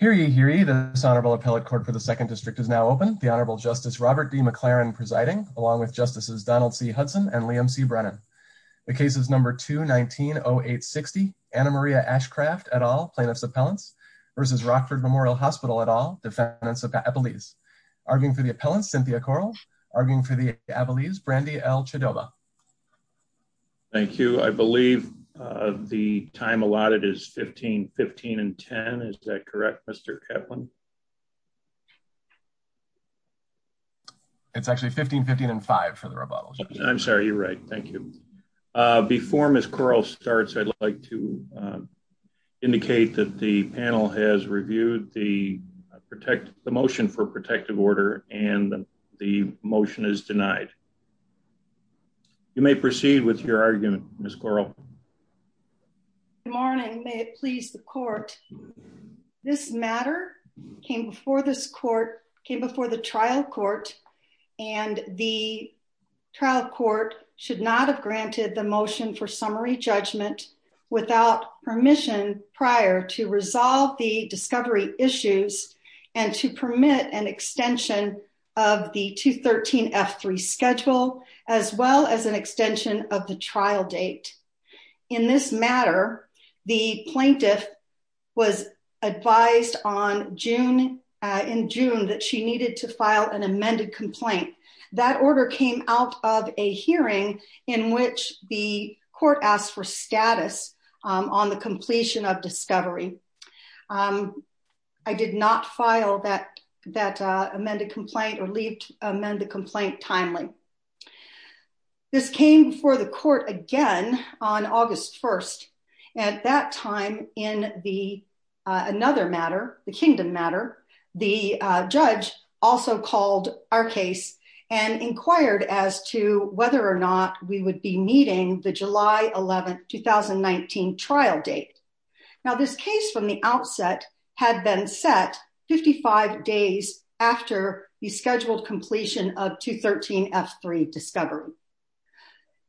Hear ye, hear ye, this Honorable Appellate Court for the 2nd District is now open. The Honorable Justice Robert D. McLaren presiding, along with Justices Donald C. Hudson and Liam C. Brennan. The case is number 2-19-0860, Anna Maria Ashcroft et al., Plaintiff's Appellants, v. Rockford Memorial Hospital et al., Defendants of Abilese. Arguing for the Appellants, Cynthia Corral. Arguing for the Abilese, Brandy L. Chidova. Thank you. I believe the time allotted is 15-15-10, is that correct, Mr. Kevlin? It's actually 15-15-5 for the rebuttal, Judge. I'm sorry. You're right. Thank you. Before Ms. Corral starts, I'd like to indicate that the panel has reviewed the motion for protective order and the motion is denied. You may proceed with your argument, Ms. Corral. Good morning. May it please the court. This matter came before this court, came before the trial court, and the trial court should not have granted the motion for summary judgment without permission prior to resolve the discovery issues and to permit an extension of the 213F3 schedule as well as an extension of the trial date. In this matter, the plaintiff was advised in June that she needed to file an amended complaint. That order came out of a hearing in which the court asked for status on the completion of discovery. I did not file that amended complaint or leave amended complaint timely. This came before the court again on August 1st. At that time, in another matter, the kingdom matter, the judge also called our case and would be meeting the July 11th, 2019 trial date. Now, this case from the outset had been set 55 days after the scheduled completion of 213F3 discovery.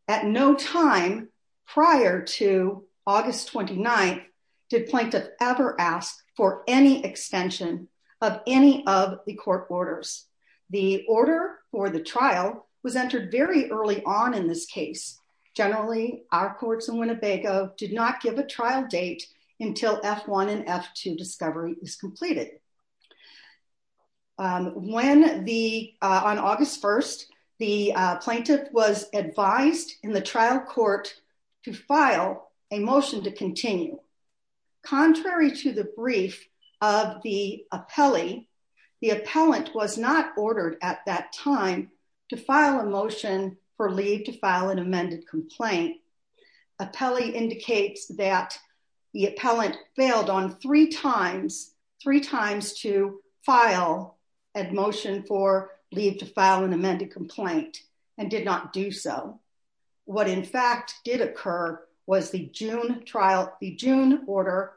At no time prior to August 29th did plaintiff ever ask for any extension of any of the court orders. The order for the trial was entered very early on in this case. Generally, our courts in Winnebago did not give a trial date until F1 and F2 discovery was completed. When the, on August 1st, the plaintiff was advised in the trial court to file a motion to continue. Contrary to the brief of the appellee, the appellant was not ordered at that time to file a motion for leave to file an amended complaint. Appellee indicates that the appellant failed on three times, three times to file a motion for leave to file an amended complaint and did not do so. What in fact did occur was the June trial, the June order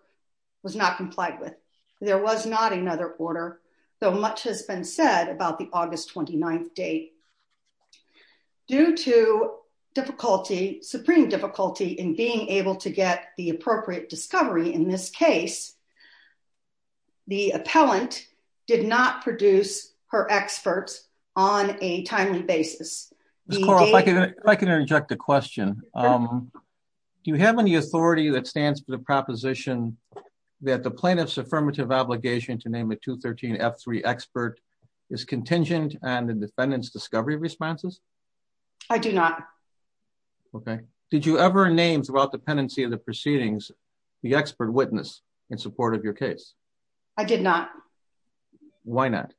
was not complied with. There was not another order, though much has been said about the August 29th date. Due to difficulty, supreme difficulty in being able to get the appropriate discovery in this case, the appellant did not produce her experts on a timely basis. Ms. Corl, if I can interject a question. Do you have any authority that stands for the proposition that the plaintiff's affirmative obligation to name a 213 F3 expert is contingent on the defendant's discovery responses? I do not. Okay. Did you ever name throughout the pendency of the proceedings the expert witness in support of your case? I did not. Why not?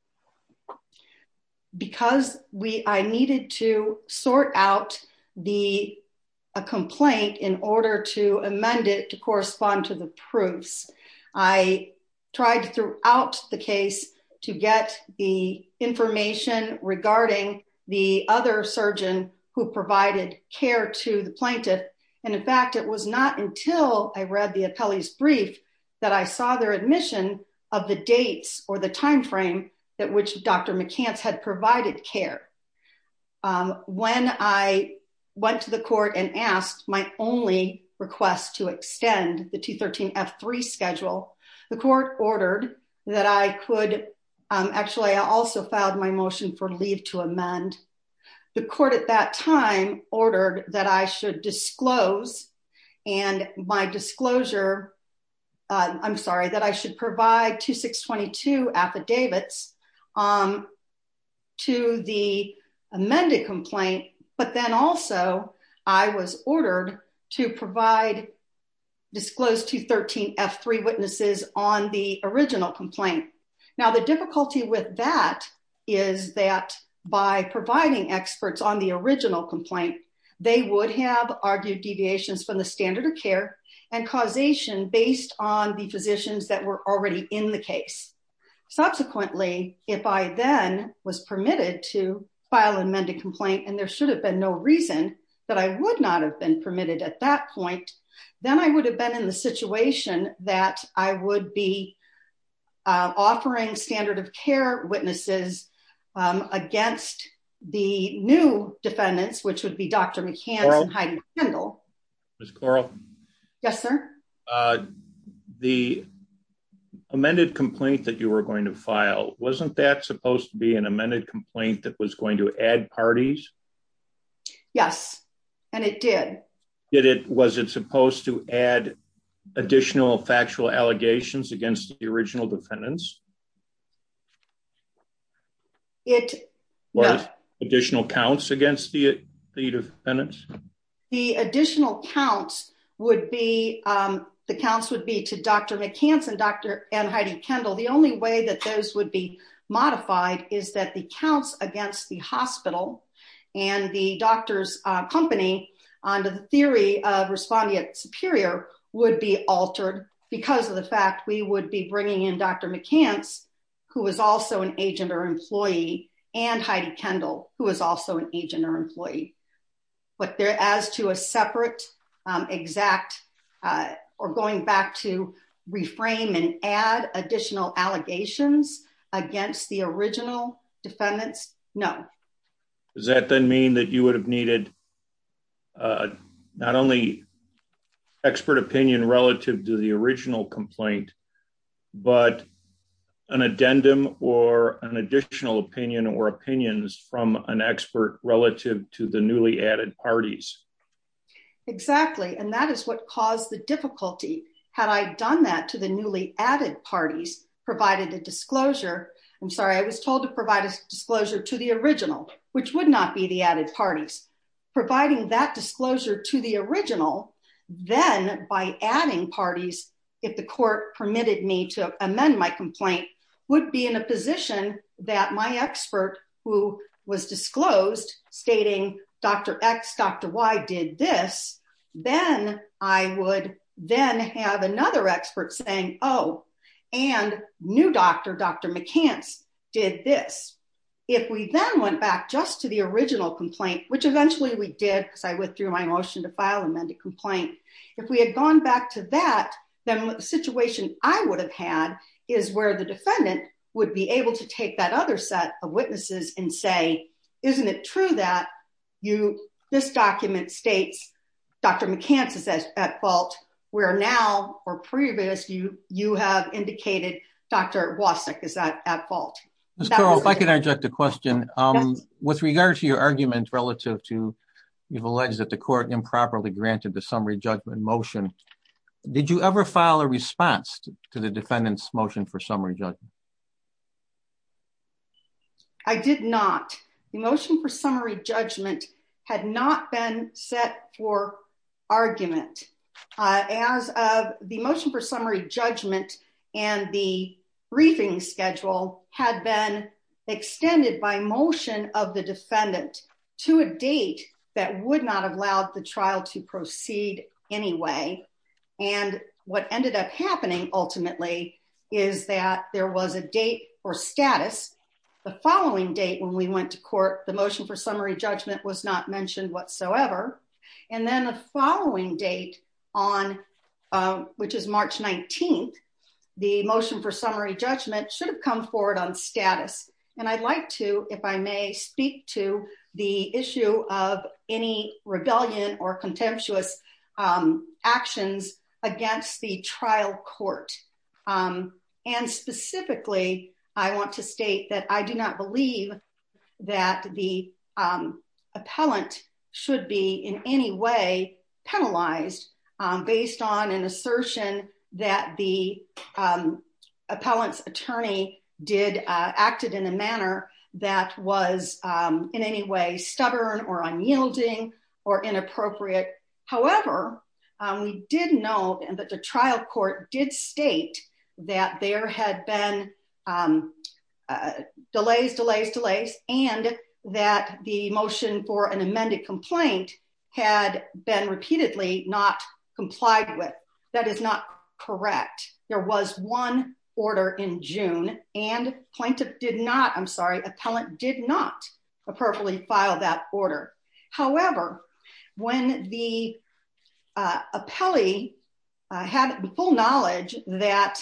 Because I needed to sort out a complaint in order to amend it to correspond to the proofs. I tried throughout the case to get the information regarding the other surgeon who provided care to the plaintiff. In fact, it was not until I read the appellee's brief that I saw their admission of the dates or the time frame at which Dr. McCance had provided care. When I went to the court and asked my only request to extend the 213 F3 schedule, the court ordered that I could, actually I also filed my motion for leave to amend. The court at that time ordered that I should disclose and my disclosure, I'm sorry, that I should provide 2622 affidavits to the amended complaint, but then also I was ordered to provide disclosed 213 F3 witnesses on the original complaint. Now the difficulty with that is that by providing experts on the original complaint, they would have argued deviations from the standard of care and causation based on the physicians that were already in the case. Subsequently, if I then was permitted to file an amended complaint and there should have been no reason that I would not have been permitted at that point, then I would have been in the situation that I would be offering standard of care witnesses against the new defendants, which would be Dr. McCance and Heidi Kendall. Ms. Corl? Yes, sir. The amended complaint that you were going to file, wasn't that supposed to be an amended complaint that was going to add parties? Yes, and it did. Was it supposed to add additional factual allegations against the original defendants? It, yeah. Or additional counts against the defendants? The additional counts would be, the counts would be to Dr. McCance and Heidi Kendall. The only way that those would be modified is that the counts against the hospital and the doctor's company under the theory of respondeat superior would be altered because of the fact we would be bringing in Dr. McCance, who was also an agent or employee, and Heidi Kendall, who was also an agent or employee. But as to a separate exact, or going back to reframe and add additional allegations against the original defendants, no. Does that then mean that you would have needed not only expert opinion relative to the original complaint, but an addendum or an additional opinion or opinions from an expert relative to the newly added parties? Exactly, and that is what caused the difficulty. Had I done that to the newly added parties, provided a disclosure, I'm sorry, I was told to provide a disclosure to the original, which would not be the added parties. Providing that disclosure to the original, then by adding parties, if the court permitted me to amend my complaint, would be in a position that my expert, who was disclosed, stating Dr. X, Dr. Y did this, then I would then have another expert saying, oh, and new doctor, Dr. McCance did this. If we then went back just to the original complaint, which eventually we did, because I went through my motion to file amended complaint. If we had gone back to that, then the situation I would have had is where the defendant would be able to take that other set of witnesses and say, isn't it true that this document states Dr. McCance is at fault, where now, or previous, you have indicated Dr. Wasik is at fault? Ms. Carroll, if I could interject a question. With regard to your argument relative to, you've alleged that the court improperly granted the summary judgment motion, did you ever file a response to the defendant's motion for summary judgment? I did not. The motion for summary judgment had not been set for argument. As of the motion for summary judgment and the briefing schedule had been extended by the motion of the defendant to a date that would not have allowed the trial to proceed anyway. And what ended up happening ultimately is that there was a date for status. The following date when we went to court, the motion for summary judgment was not mentioned whatsoever. And then the following date on, which is March 19th, the motion for summary judgment should have come forward on status. And I'd like to, if I may, speak to the issue of any rebellion or contemptuous actions against the trial court. And specifically, I want to state that I do not believe that the appellant should be in a manner that was in any way stubborn or unyielding or inappropriate. However, we did know that the trial court did state that there had been delays, delays, delays, and that the motion for an amended complaint had been repeatedly not complied with. That is not correct. There was one order in June and plaintiff did not, I'm sorry, appellant did not appropriately file that order. However, when the appellee had full knowledge that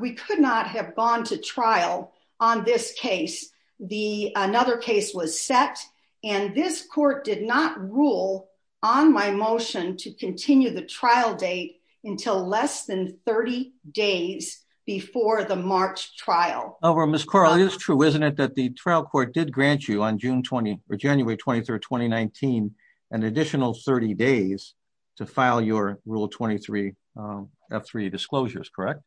we could not have gone to trial on this case, another case was set and this court did not rule on my motion to continue the 30 days before the March trial. Ms. Carl, it is true, isn't it, that the trial court did grant you on June 20 or January 23rd, 2019, an additional 30 days to file your rule 23 F3 disclosures, correct?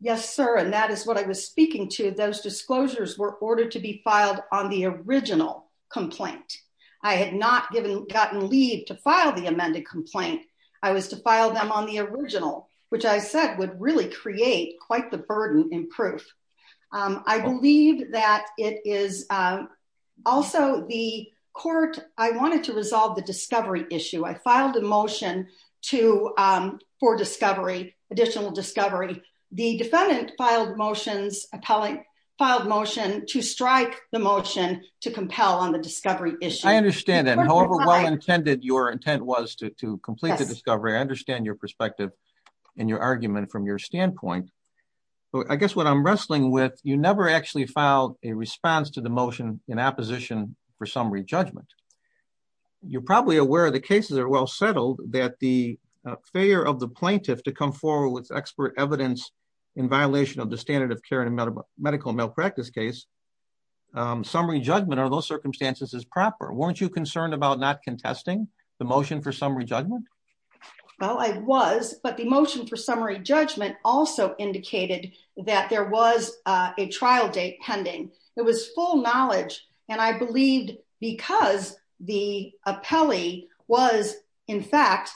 Yes, sir. And that is what I was speaking to. Those disclosures were ordered to be filed on the original complaint. I had not gotten leave to file the amended complaint. I was to file them on the original, which I said would really create quite the burden in proof. I believe that it is also the court, I wanted to resolve the discovery issue. I filed a motion to, for discovery, additional discovery. The defendant filed motions, appellate filed motion to strike the motion to compel on the discovery issue. I understand that. However well-intended your intent was to complete the discovery, I understand your perspective and your argument from your standpoint. I guess what I'm wrestling with, you never actually filed a response to the motion in opposition for summary judgment. You're probably aware the cases are well settled that the failure of the plaintiff to come forward with expert evidence in violation of the standard of care in a medical malpractice case. Summary judgment under those circumstances is proper. Weren't you concerned about not contesting the motion for summary judgment? Well, I was, but the motion for summary judgment also indicated that there was a trial date pending. It was full knowledge and I believed because the appellee was, in fact,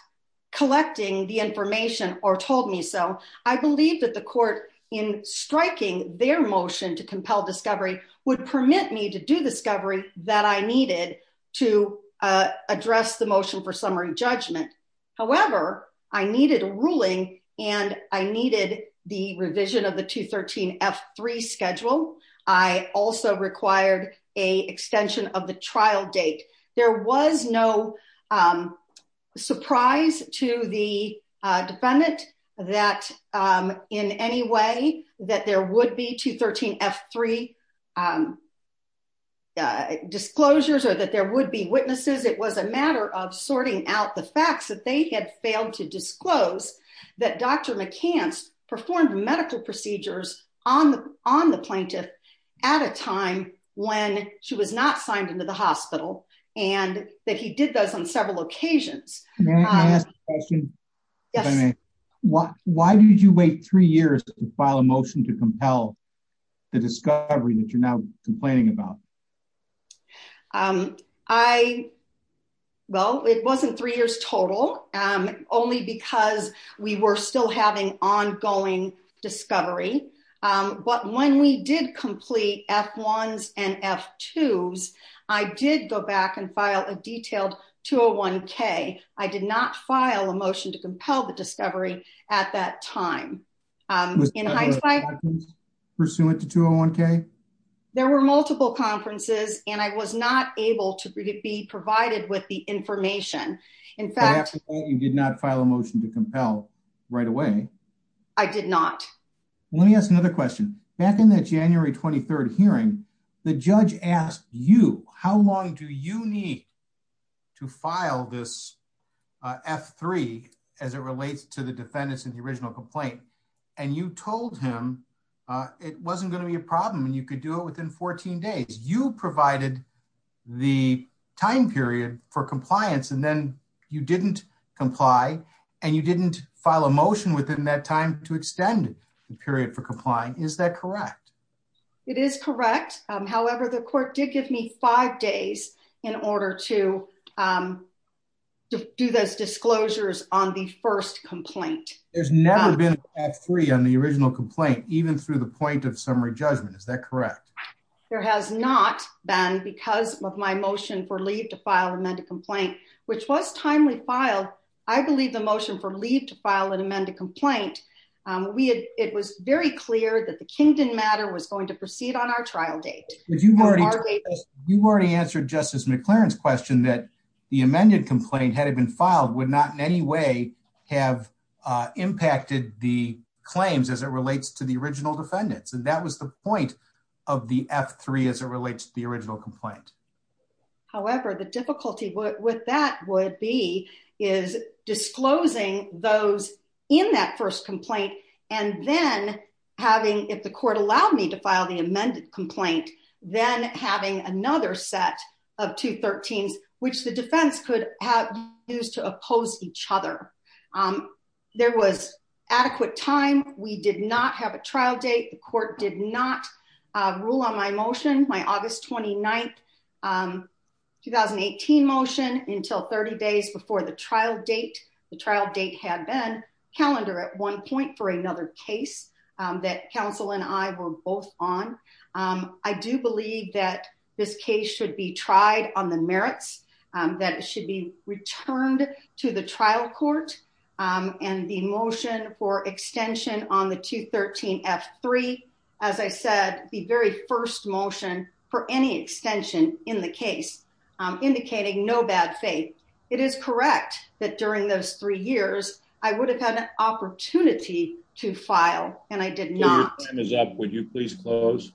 collecting the information or told me so. I believed that the court in striking their motion to compel discovery would permit me to do discovery that I needed to address the motion for summary judgment. However, I needed a ruling and I needed the revision of the 213F3 schedule. I also required an extension of the trial date. There was no surprise to the defendant that in any way that there would be 213F3 disclosures or that there would be witnesses. It was a matter of sorting out the facts that they had failed to disclose that Dr. McCants performed medical procedures on the plaintiff at a time when she was not signed into the hospital and that he did those on several occasions. May I ask a question? Yes. Why did you wait three years to file a motion to compel the discovery that you're now complaining about? Well, it wasn't three years total. Only because we were still having ongoing discovery. But when we did complete F1s and F2s, I did go back and file a detailed 201K. I did not file a motion to compel the discovery at that time. Was that a motion pursuant to 201K? There were multiple conferences and I was not able to be provided with the information. In fact, you did not file a motion to compel right away. I did not. Let me ask another question. Back in that January 23rd hearing, the judge asked you, how long do you need to file this F3 as it relates to the defendants in the original complaint? And you told him it wasn't going to be a problem and you could do it within 14 days. You provided the time period for compliance and then you didn't comply. And you didn't file a motion within that time to extend the period for complying. Is that correct? It is correct. However, the court did give me five days in order to do those disclosures on the first complaint. There's never been a F3 on the original complaint, even through the point of summary judgment. Is that correct? There has not been because of my motion for leave to file an amended complaint, which was timely filed. I believe the motion for leave to file an amended complaint, it was very clear that the Kingdom matter was going to proceed on our trial date. You've already answered Justice McLaren's question that the amended complaint, had it been filed, would not in any way have impacted the claims as it relates to the original defendants. And that was the point of the F3 as it relates to the original complaint. However, the difficulty with that would be disclosing those in that first complaint and then having, if the court allowed me to file the amended complaint, then having another set of 213s, which the defense could have used to oppose each other. There was adequate time. We did not have a trial date. The court did not rule on my motion, my August 29th, 2018 motion, until 30 days before the trial date. The trial date had been calendar at one point for another case that counsel and I were both on. I do believe that this case should be tried on the merits that should be returned to the trial court. And the motion for extension on the 213 F3, as I said, the very first motion for any extension in the case indicating no bad faith. It is correct that during those three years, I would have had an opportunity to file and I did not. Your time is up. Would you please close?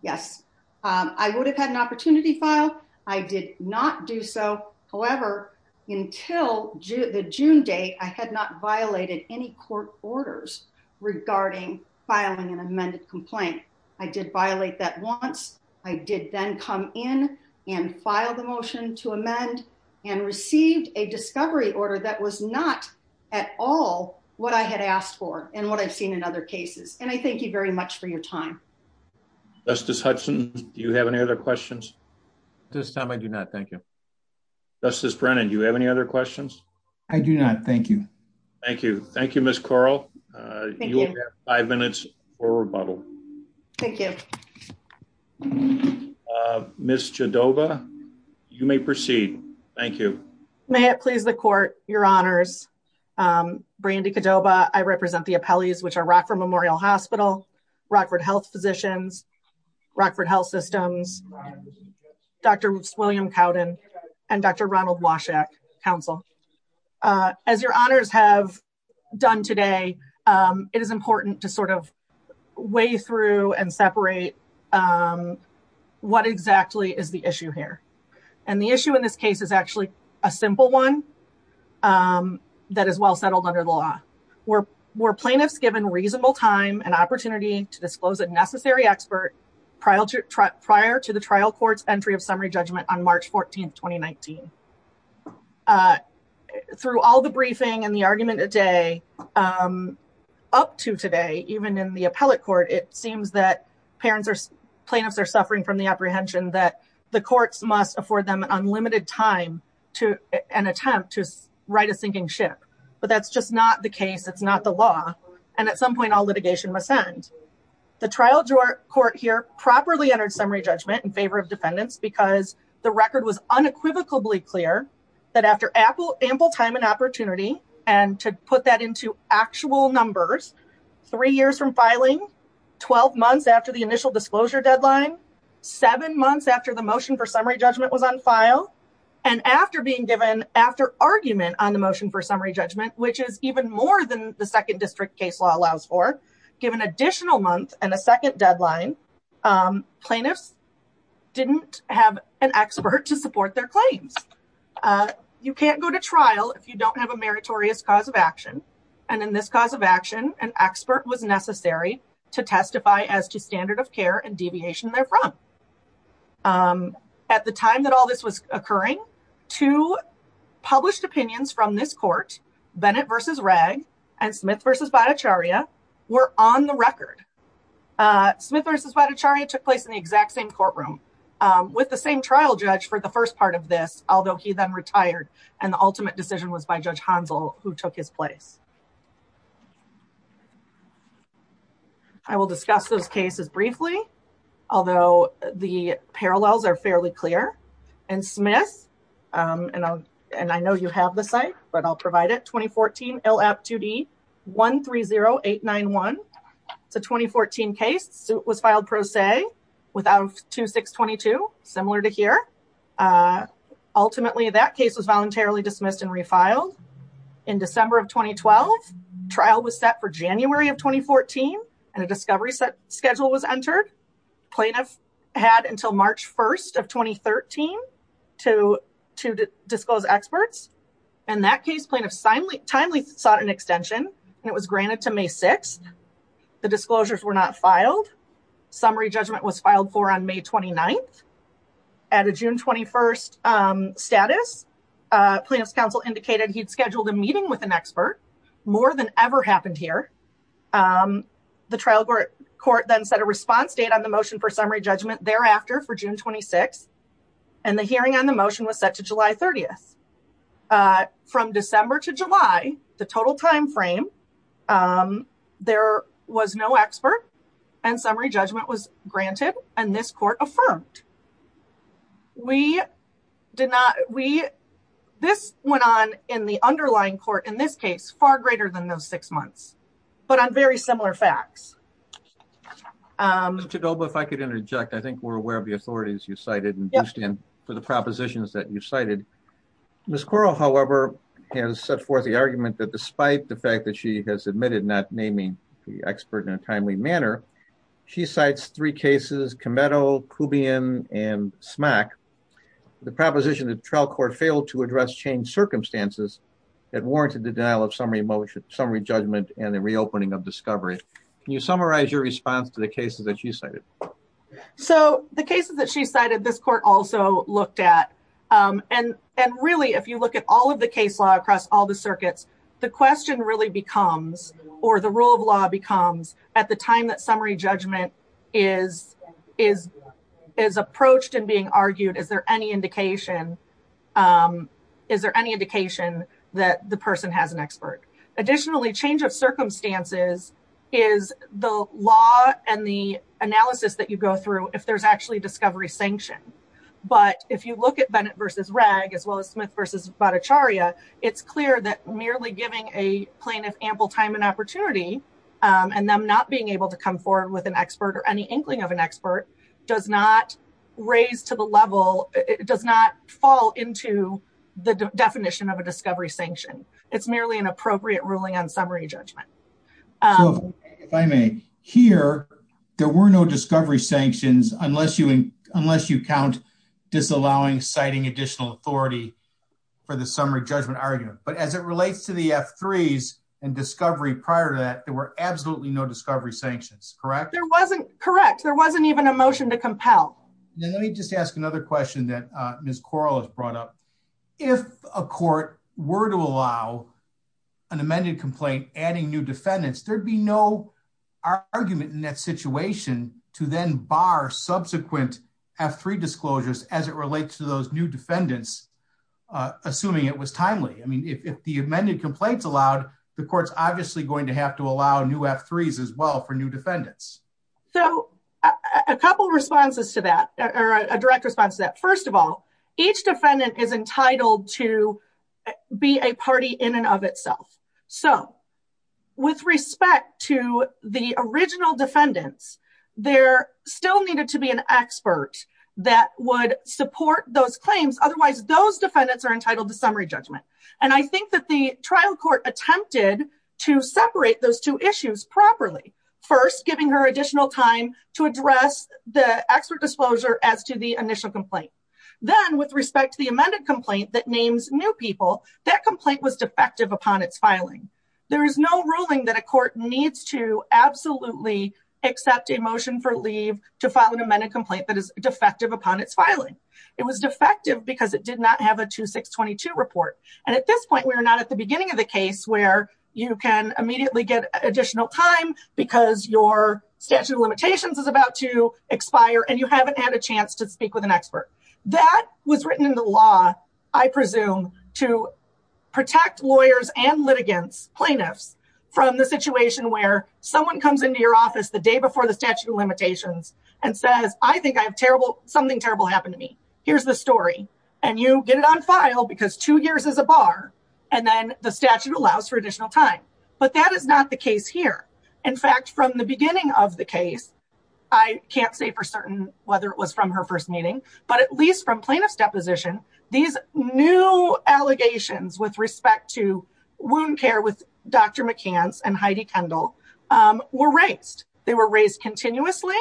Yes. I would have had an opportunity to file. I did not do so. However, until the June date, I had not violated any court orders regarding filing an amended complaint. I did violate that once. I did then come in and file the motion to amend and received a discovery order that was not at all what I had asked for and what I've seen in other cases. And I thank you very much for your time. Justice Hudson, do you have any other questions? At this time, I do not. Thank you. Justice Brennan, do you have any other questions? I do not. Thank you. Thank you. Thank you, Ms. Corl. You will have five minutes for rebuttal. Thank you. Ms. Jadova, you may proceed. Thank you. May it please the court, your honors. Brandy Jadova, I represent the appellees which are Rockford Memorial Hospital, Rockford Health Physicians, Rockford Health Systems, Dr. William Cowden, and Dr. Ronald Washek, counsel. As your honors have done today, it is important to sort of weigh through and separate what exactly is the issue here. And the issue in this case is actually a simple one that is well settled under the law. Were plaintiffs given reasonable time and opportunity to disclose a necessary expert prior to the trial court's entry of summary judgment on March 14, 2019? Through all the briefing and the argument today, up to today, even in the appellate court, it seems that plaintiffs are suffering from the apprehension that the courts must afford them unlimited time to an attempt to right a sinking ship. But that's just not the case. It's not the law. And at some point, all litigation must end. The trial court here properly entered summary judgment in favor of defendants because the record was unequivocally clear that after ample time and opportunity, and to put that into actual numbers, three years from filing, 12 months after the initial disclosure deadline, seven months after the motion for summary judgment was on file, and after being given after argument on the motion for summary judgment, which is even more than the second district case law allows for, given additional month and a second deadline, plaintiffs didn't have an expert to support their claims. You can't go to trial if you don't have a meritorious cause of action. And in this cause of action, an expert was necessary to testify as to standard of care and deviation therefrom. At the time that all this was occurring, two published opinions from this court, Bennett v. Ragg and Smith v. Bhattacharya, were on the record. Smith v. Bhattacharya took place in the exact same courtroom with the same trial judge for the first part of this, although he then retired and the ultimate decision was by Judge Hansel, who took his place. I will discuss those cases briefly, although the parallels are fairly clear. In Smith, and I know you have the site, but I'll provide it, 2014 LAP 2D 130891. It's a 2014 case. It was filed pro se without 2622, similar to here. Ultimately, that case was voluntarily dismissed and refiled. In December of 2012, trial was set for January of 2014 and a discovery schedule was entered. Plaintiff had until March 1st of 2013 to disclose experts. In that case, plaintiff timely sought an extension and it was granted to May 6th. The disclosures were not filed. Summary judgment was filed for on May 29th. At a June 21st status, plaintiff's counsel indicated he'd scheduled a meeting with an expert. More than ever happened here. The trial court then set a response date on the motion for summary judgment thereafter for June 26. And the hearing on the motion was set to July 30th. From December to July, the total time frame, there was no expert and summary judgment was granted and this court affirmed. We did not, we, this went on in the underlying court in this case, far greater than those six months. But on very similar facts. Ms. Chidoba, if I could interject. I think we're aware of the authorities you cited and for the propositions that you cited. Ms. Quarle, however, has set forth the argument that despite the fact that she has admitted not naming the expert in a timely manner. She cites three cases, Cameto, Kubian and Smack. The proposition that trial court failed to address changed circumstances. That warranted the denial of summary motion, summary judgment and the reopening of discovery. Can you summarize your response to the cases that you cited? So the cases that she cited, this court also looked at. And really, if you look at all of the case law across all the circuits. The question really becomes or the rule of law becomes at the time that summary judgment is, is, is approached and being argued. Is there any indication? Is there any indication that the person has an expert? Additionally, change of circumstances is the law and the analysis that you go through if there's actually discovery sanction. But if you look at Bennett versus Ragg, as well as Smith versus Bhattacharya, it's clear that merely giving a plaintiff ample time and opportunity. And I'm not being able to come forward with an expert or any inkling of an expert does not raise to the level. It does not fall into the definition of a discovery sanction. It's merely an appropriate ruling on summary judgment. If I may. Here, there were no discovery sanctions unless you, unless you count disallowing citing additional authority for the summary judgment argument. But as it relates to the F3s and discovery prior to that, there were absolutely no discovery sanctions, correct? Correct. There wasn't even a motion to compel. Let me just ask another question that Ms. Corral has brought up. If a court were to allow an amended complaint, adding new defendants, there'd be no argument in that situation to then bar subsequent F3 disclosures as it relates to those new defendants, assuming it was timely. I mean, if the amended complaints allowed, the court's obviously going to have to allow new F3s as well for new defendants. So, a couple of responses to that, or a direct response to that. First of all, each defendant is entitled to be a party in and of itself. So, with respect to the original defendants, there still needed to be an expert that would support those claims. Otherwise, those defendants are entitled to summary judgment. And I think that the trial court attempted to separate those two issues properly. First, giving her additional time to address the expert disclosure as to the initial complaint. Then, with respect to the amended complaint that names new people, that complaint was defective upon its filing. There is no ruling that a court needs to absolutely accept a motion for leave to file an amended complaint that is defective upon its filing. It was defective because it did not have a 2622 report. And at this point, we are not at the beginning of the case where you can immediately get additional time because your statute of limitations is about to expire and you haven't had a chance to speak with an expert. That was written in the law, I presume, to protect lawyers and litigants, plaintiffs, from the situation where someone comes into your office the day before the statute of limitations and says, I think something terrible happened to me. Here's the story. And you get it on file because two years is a bar and then the statute allows for additional time. But that is not the case here. In fact, from the beginning of the case, I can't say for certain whether it was from her first meeting, but at least from plaintiff's deposition, these new allegations with respect to wound care with Dr. McCance and Heidi Kendall were raised. They were raised continuously.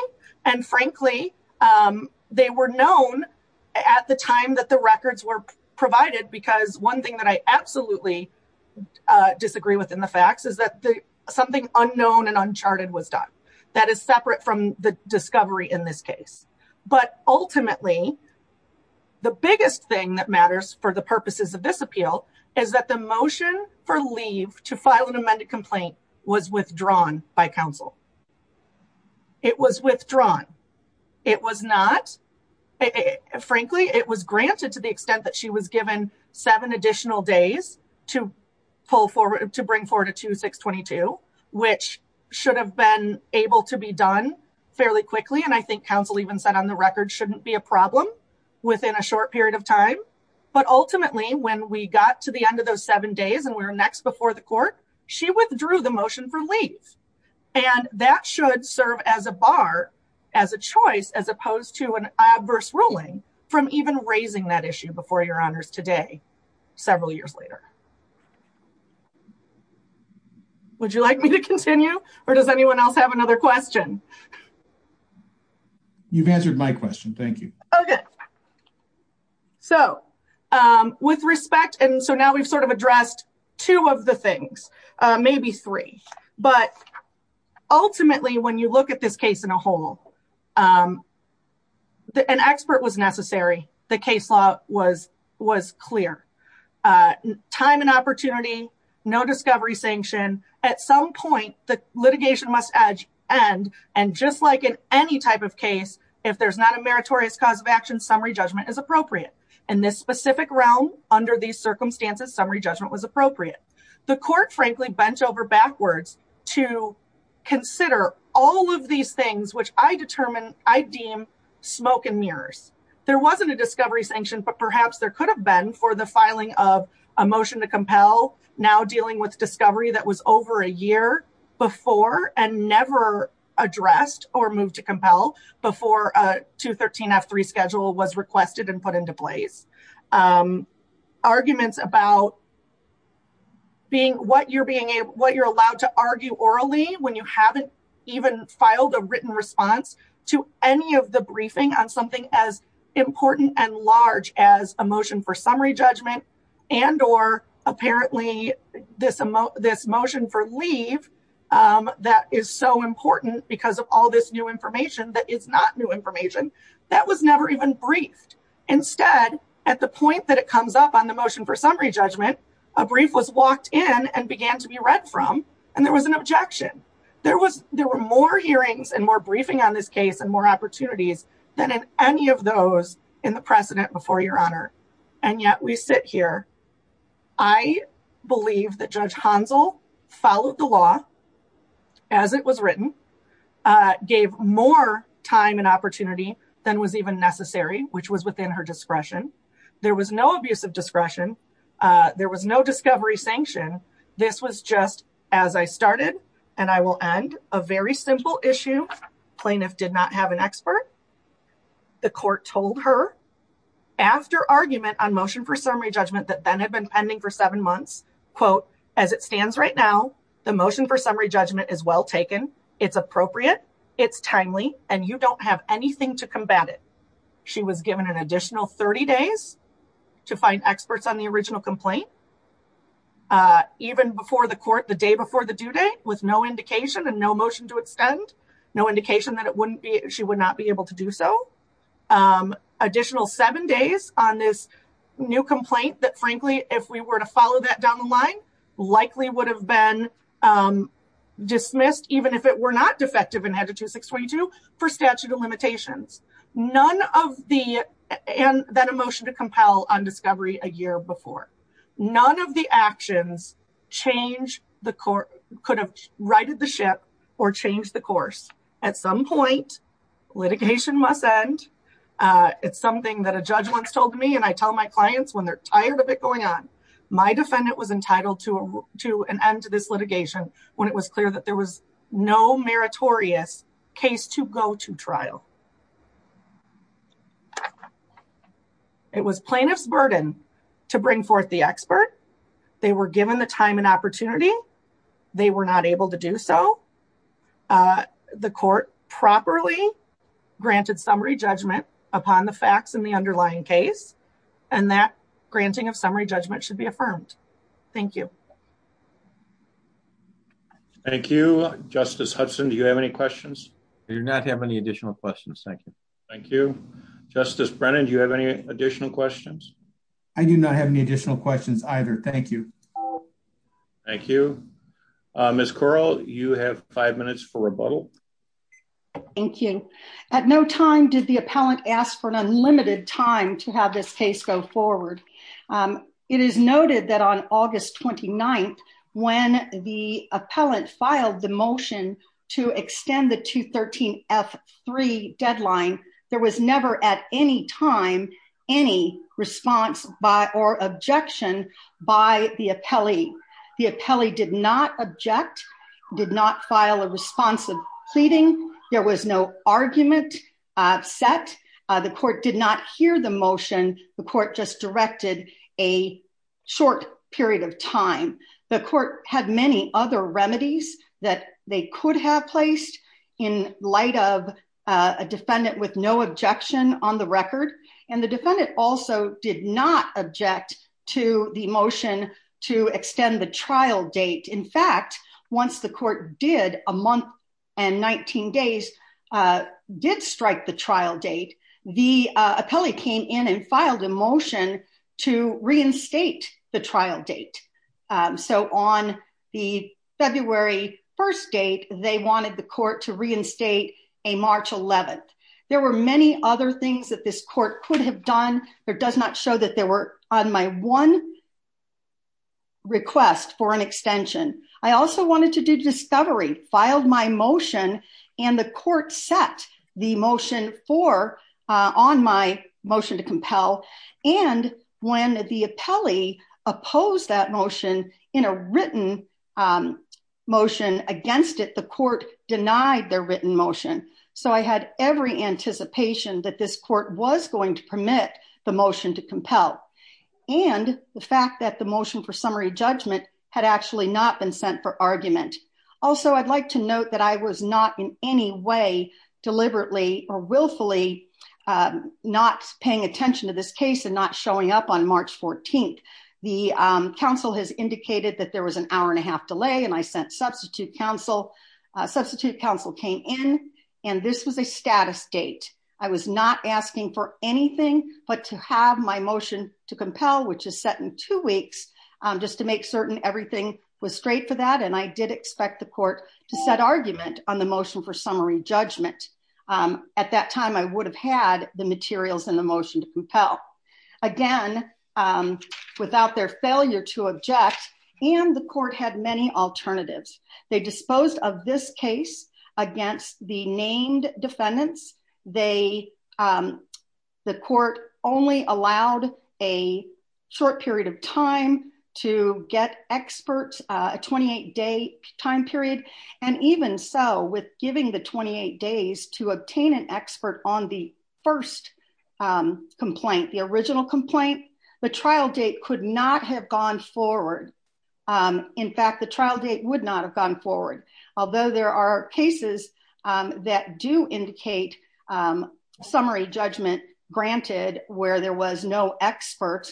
And frankly, they were known at the time that the records were provided because one thing that I absolutely disagree with in the facts is that something unknown and uncharted was done. That is separate from the discovery in this case. But ultimately, the biggest thing that matters for the purposes of this appeal is that the motion for leave to file an amended complaint was withdrawn by counsel. It was withdrawn. It was not. Frankly, it was granted to the extent that she was given seven additional days to pull forward, to bring forward a 2622, which should have been able to be done fairly quickly. And I think counsel even said on the record shouldn't be a problem within a short period of time. But ultimately, when we got to the end of those seven days and we were next before the court, she withdrew the motion for leave. And that should serve as a bar, as a choice, as opposed to an adverse ruling from even raising that issue before your honors today, several years later. Would you like me to continue or does anyone else have another question? You've answered my question. Thank you. Okay. So with respect, and so now we've sort of addressed two of the things, maybe three. But ultimately, when you look at this case in a whole, an expert was necessary. The case law was clear. Time and opportunity, no discovery sanction. At some point, the litigation must end. And just like in any type of case, if there's not a meritorious cause of action, summary judgment is appropriate. In this specific realm, under these circumstances, summary judgment was appropriate. The court, frankly, bent over backwards to consider all of these things, which I determine, I deem smoke and mirrors. There wasn't a discovery sanction, but perhaps there could have been for the filing of a motion to compel. Now dealing with discovery that was over a year before and never addressed or moved to compel before a 213 F3 schedule was requested and put into place. Arguments about being, what you're being able, what you're allowed to argue orally when you haven't even filed a written response to any of the briefing on something as important and large as a motion for summary judgment. And or apparently this, this motion for leave that is so important because of all this new information that is not new information that was never even briefed. Instead, at the point that it comes up on the motion for summary judgment, a brief was walked in and began to be read from, and there was an objection. There was, there were more hearings and more briefing on this case and more opportunities than in any of those in the precedent before your honor. And yet we sit here. I believe that Judge Hansel followed the law as it was written, gave more time and opportunity than was even necessary, which was within her discretion. There was no abuse of discretion. There was no discovery sanction. This was just as I started and I will end a very simple issue. Plaintiff did not have an expert. The court told her after argument on motion for summary judgment that then had been pending for seven months, quote, as it stands right now, the motion for summary judgment is well taken. It's appropriate. It's timely. And you don't have anything to combat it. She was given an additional 30 days to find experts on the original complaint. Even before the court, the day before the due date, with no indication and no motion to extend, no indication that it wouldn't be, she would not be able to do so. Additional seven days on this new complaint that, frankly, if we were to follow that down the line, likely would have been dismissed even if it were not defective in Hedge 2622 for statute of limitations. None of the, and then a motion to compel on discovery a year before. None of the actions could have righted the ship or changed the course. At some point, litigation must end. It's something that a judge once told me and I tell my clients when they're tired of it going on. My defendant was entitled to an end to this litigation when it was clear that there was no meritorious case to go to trial. It was plaintiff's burden to bring forth the expert. They were given the time and opportunity. They were not able to do so. The court properly granted summary judgment upon the facts in the underlying case. And that granting of summary judgment should be affirmed. Thank you. Thank you. Justice Hudson, do you have any questions? I do not have any additional questions. Thank you. Justice Brennan, do you have any additional questions? I do not have any additional questions either. Thank you. Thank you. Ms. Corral, you have five minutes for rebuttal. Thank you. At no time did the appellant ask for an unlimited time to have this case go forward. It is noted that on August 29th, when the appellant filed the motion to extend the 213F3 deadline, there was never at any time any response or objection by the appellee. The appellee did not object, did not file a response of pleading. There was no argument set. The court did not hear the motion. The court just directed a short period of time. The court had many other remedies that they could have placed in light of a defendant with no objection on the record. And the defendant also did not object to the motion to extend the trial date. In fact, once the court did, a month and 19 days, did strike the trial date, the appellee came in and filed a motion to reinstate the trial date. So on the February 1st date, they wanted the court to reinstate a March 11th. There were many other things that this court could have done. It does not show that they were on my one request for an extension. I also wanted to do discovery, filed my motion and the court set the motion on my motion to compel. And when the appellee opposed that motion in a written motion against it, the court denied their written motion. So I had every anticipation that this court was going to permit the motion to compel. And the fact that the motion for summary judgment had actually not been sent for argument. Also, I'd like to note that I was not in any way deliberately or willfully not paying attention to this case and not showing up on March 14th. The counsel has indicated that there was an hour and a half delay and I sent substitute counsel. Substitute counsel came in and this was a status date. I was not asking for anything but to have my motion to compel, which is set in two weeks. Just to make certain everything was straight for that. And I did expect the court to set argument on the motion for summary judgment. At that time, I would have had the materials in the motion to compel. Again, without their failure to object and the court had many alternatives. They disposed of this case against the named defendants. The court only allowed a short period of time to get experts, a 28 day time period. And even so, with giving the 28 days to obtain an expert on the first complaint, the original complaint. The trial date could not have gone forward. In fact, the trial date would not have gone forward. Although there are cases that do indicate summary judgment granted where there was no expert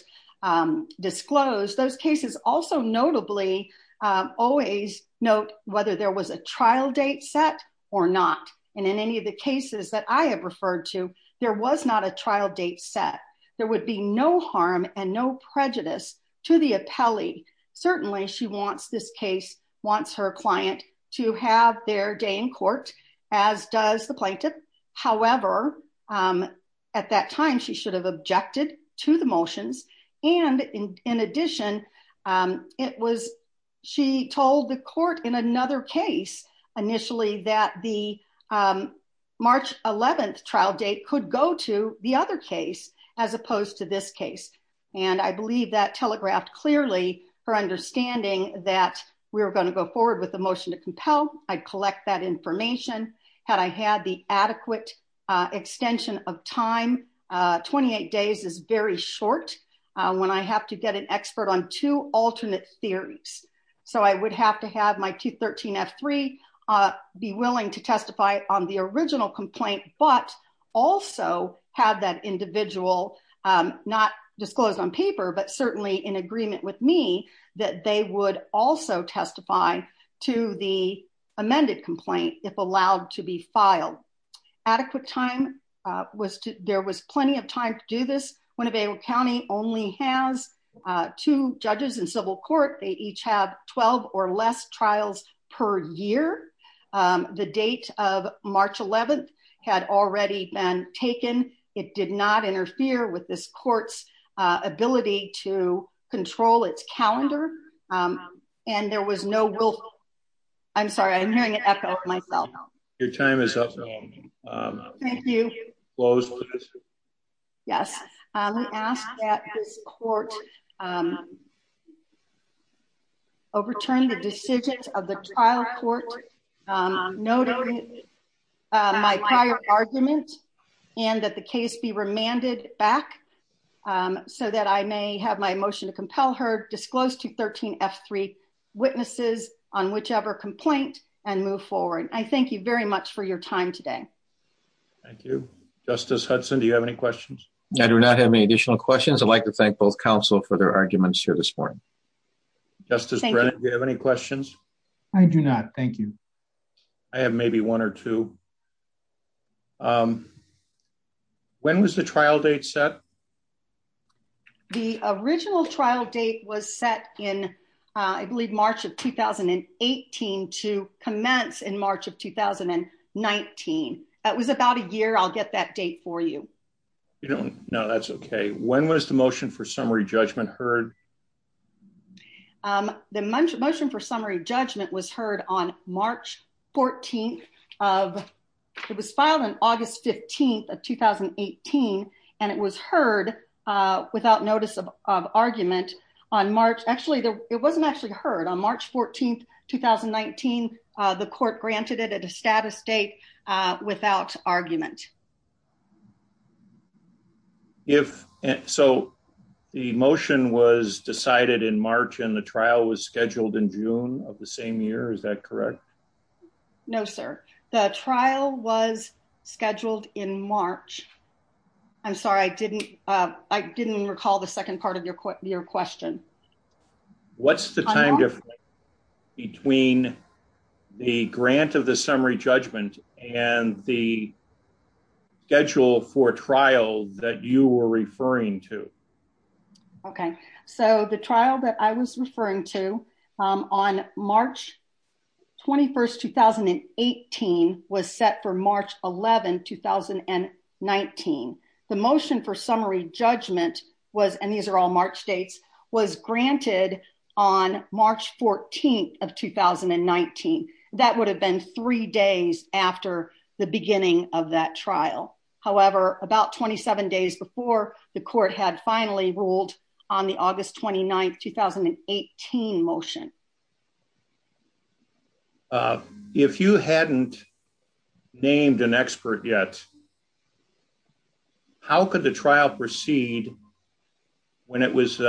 disclosed. Those cases also notably always note whether there was a trial date set or not. And in any of the cases that I have referred to, there was not a trial date set. There would be no harm and no prejudice to the appellee. Certainly, she wants this case, wants her client to have their day in court, as does the plaintiff. However, at that time, she should have objected to the motions. And in addition, it was she told the court in another case. Initially, that the March 11th trial date could go to the other case as opposed to this case. And I believe that telegraphed clearly for understanding that we were going to go forward with the motion to compel. I'd collect that information had I had the adequate extension of time. 28 days is very short when I have to get an expert on two alternate theories. So I would have to have my T13F3 be willing to testify on the original complaint, but also have that individual not disclosed on paper, but certainly in agreement with me, that they would also testify to the amended complaint if allowed to be filed. Adequate time was there was plenty of time to do this. Winnebago County only has two judges in civil court. They each have 12 or less trials per year. The date of March 11th had already been taken. It did not interfere with this court's ability to control its calendar. And there was no will. I'm sorry, I'm hearing an echo myself. Your time is up. Thank you. Yes. We ask that this court overturn the decision of the trial court, noting my prior argument and that the case be remanded back so that I may have my motion to compel her disclosed to 13F3 witnesses on whichever complaint and move forward. I thank you very much for your time today. Thank you. Justice Hudson, do you have any questions? I do not have any additional questions. I'd like to thank both counsel for their arguments here this morning. Justice Brennan, do you have any questions? I do not. Thank you. I have maybe one or two. When was the trial date set? The original trial date was set in, I believe, March of 2018 to commence in March of 2019. It was about a year. I'll get that date for you. No, that's OK. When was the motion for summary judgment heard? The motion for summary judgment was heard on March 14th. It was filed on August 15th of 2018. And it was heard without notice of argument on March. Actually, it wasn't actually heard on March 14th, 2019. The court granted it at a status date without argument. So the motion was decided in March and the trial was scheduled in June of the same year. Is that correct? No, sir. The trial was scheduled in March. I'm sorry. I didn't recall the second part of your question. What's the time difference between the grant of the summary judgment and the schedule for trial that you were referring to? OK, so the trial that I was referring to on March 21st, 2018, was set for March 11th, 2019. The motion for summary judgment was, and these are all March dates, was granted on March 14th of 2019. That would have been three days after the beginning of that trial. However, about 27 days before, the court had finally ruled on the August 29th, 2018 motion. If you hadn't named an expert yet, how could the trial proceed when it was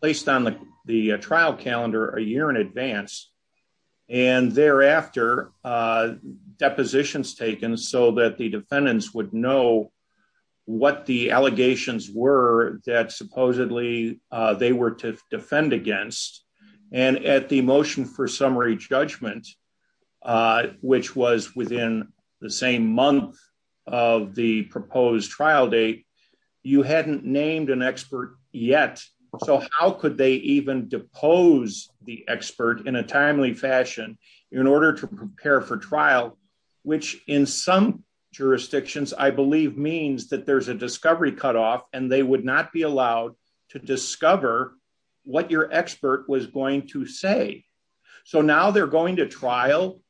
placed on the trial calendar a year in advance and thereafter, depositions taken so that the defendants would know what the allegations were that supposedly they were to defend against? And at the motion for summary judgment, which was within the same month of the proposed trial date, you hadn't named an expert yet. So how could they even depose the expert in a timely fashion in order to prepare for trial? Which in some jurisdictions, I believe, means that there's a discovery cutoff and they would not be allowed to discover what your expert was going to say. So now they're going to trial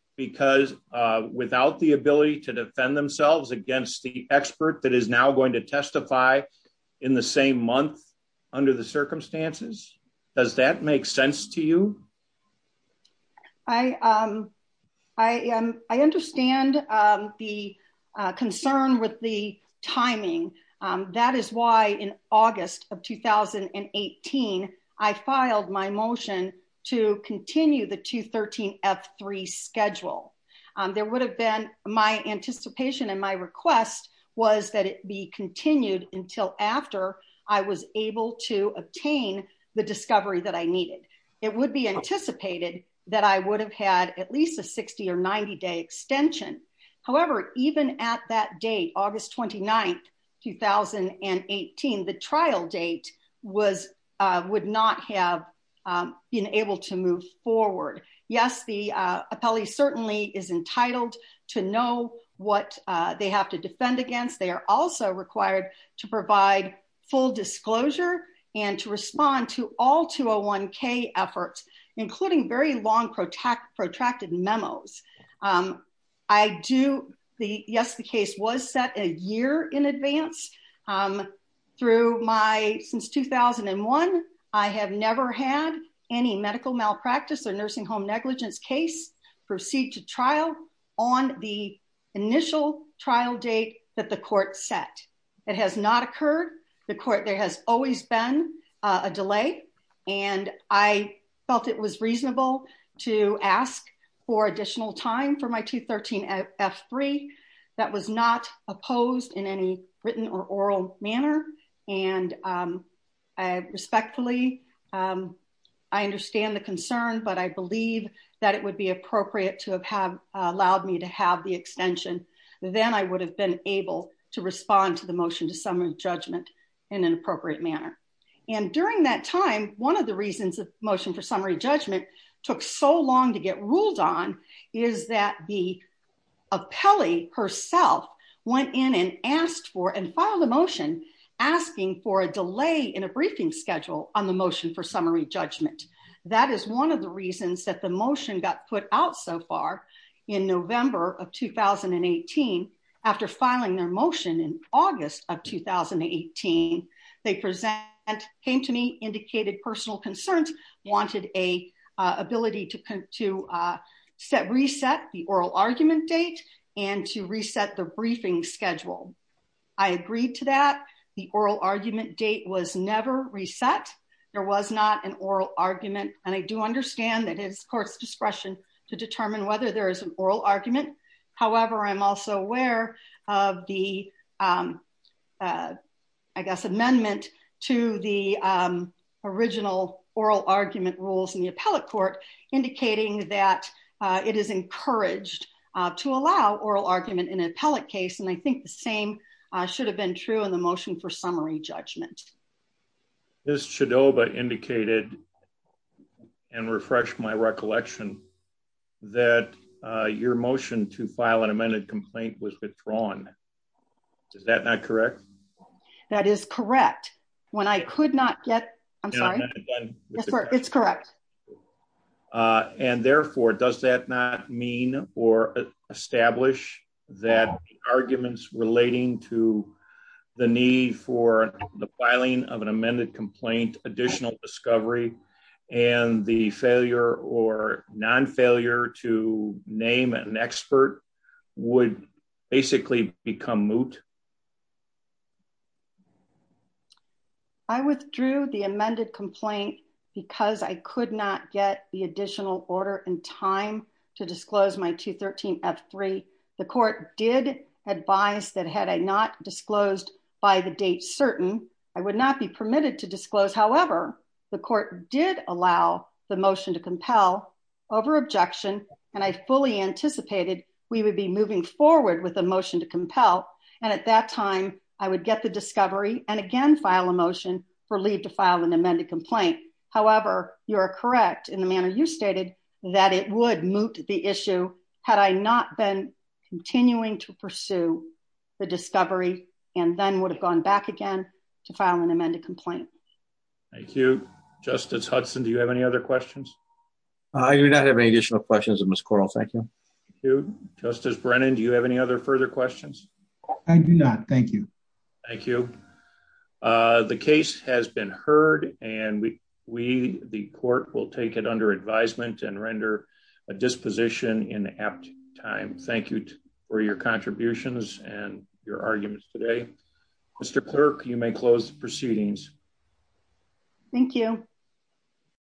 without the ability to defend themselves against the expert that is now going to testify in the same month under the circumstances. Does that make sense to you? That is why in August of 2018, I filed my motion to continue the 2-13-F-3 schedule. My anticipation and my request was that it be continued until after I was able to obtain the discovery that I needed. It would be anticipated that I would have had at least a 60 or 90-day extension. However, even at that date, August 29, 2018, the trial date would not have been able to move forward. Yes, the appellee certainly is entitled to know what they have to defend against. They are also required to provide full disclosure and to respond to all 201-K efforts, including very long protracted memos. Yes, the case was set a year in advance. Since 2001, I have never had any medical malpractice or nursing home negligence case proceed to trial on the initial trial date that the court set. It has not occurred. There has always been a delay. I felt it was reasonable to ask for additional time for my 2-13-F-3 that was not opposed in any written or oral manner. Respectfully, I understand the concern, but I believe that it would be appropriate to have allowed me to have the extension. Then I would have been able to respond to the motion to summon judgment in an appropriate manner. During that time, one of the reasons the motion for summary judgment took so long to get ruled on is that the appellee herself went in and filed a motion asking for a delay in a briefing schedule on the motion for summary judgment. That is one of the reasons that the motion got put out so far in November of 2018. After filing their motion in August of 2018, they came to me, indicated personal concerns, wanted an ability to reset the oral argument date and to reset the briefing schedule. I agreed to that. The oral argument date was never reset. There was not an oral argument. I do understand that it is the court's discretion to determine whether there is an oral argument. However, I'm also aware of the, I guess, amendment to the original oral argument rules in the appellate court indicating that it is encouraged to allow oral argument in an appellate case. I think the same should have been true in the motion for summary judgment. Ms. Chidova indicated and refreshed my recollection that your motion to file an amended complaint was withdrawn. Is that not correct? That is correct. When I could not get, I'm sorry, it's correct. And therefore, does that not mean or establish that arguments relating to the need for the filing of an amended complaint, additional discovery, and the failure or non-failure to name an expert would basically become moot? I withdrew the amended complaint because I could not get the additional order in time to disclose my 213F3. The court did advise that had I not disclosed by the date certain, I would not be permitted to disclose. However, the court did allow the motion to compel over objection. And I fully anticipated we would be moving forward with a motion to compel. And at that time, I would get the discovery and again, file a motion for leave to file an amended complaint. However, you are correct in the manner you stated that it would moot the issue. Had I not been continuing to pursue the discovery and then would have gone back again to file an amended complaint. Thank you. Justice Hudson, do you have any other questions? I do not have any additional questions, Ms. Correll. Thank you. Thank you. Justice Brennan, do you have any other further questions? I do not. Thank you. Thank you. The case has been heard and we, the court, will take it under advisement and render a disposition in apt time. Thank you for your contributions and your arguments today. Mr. Clerk, you may close the proceedings. Thank you.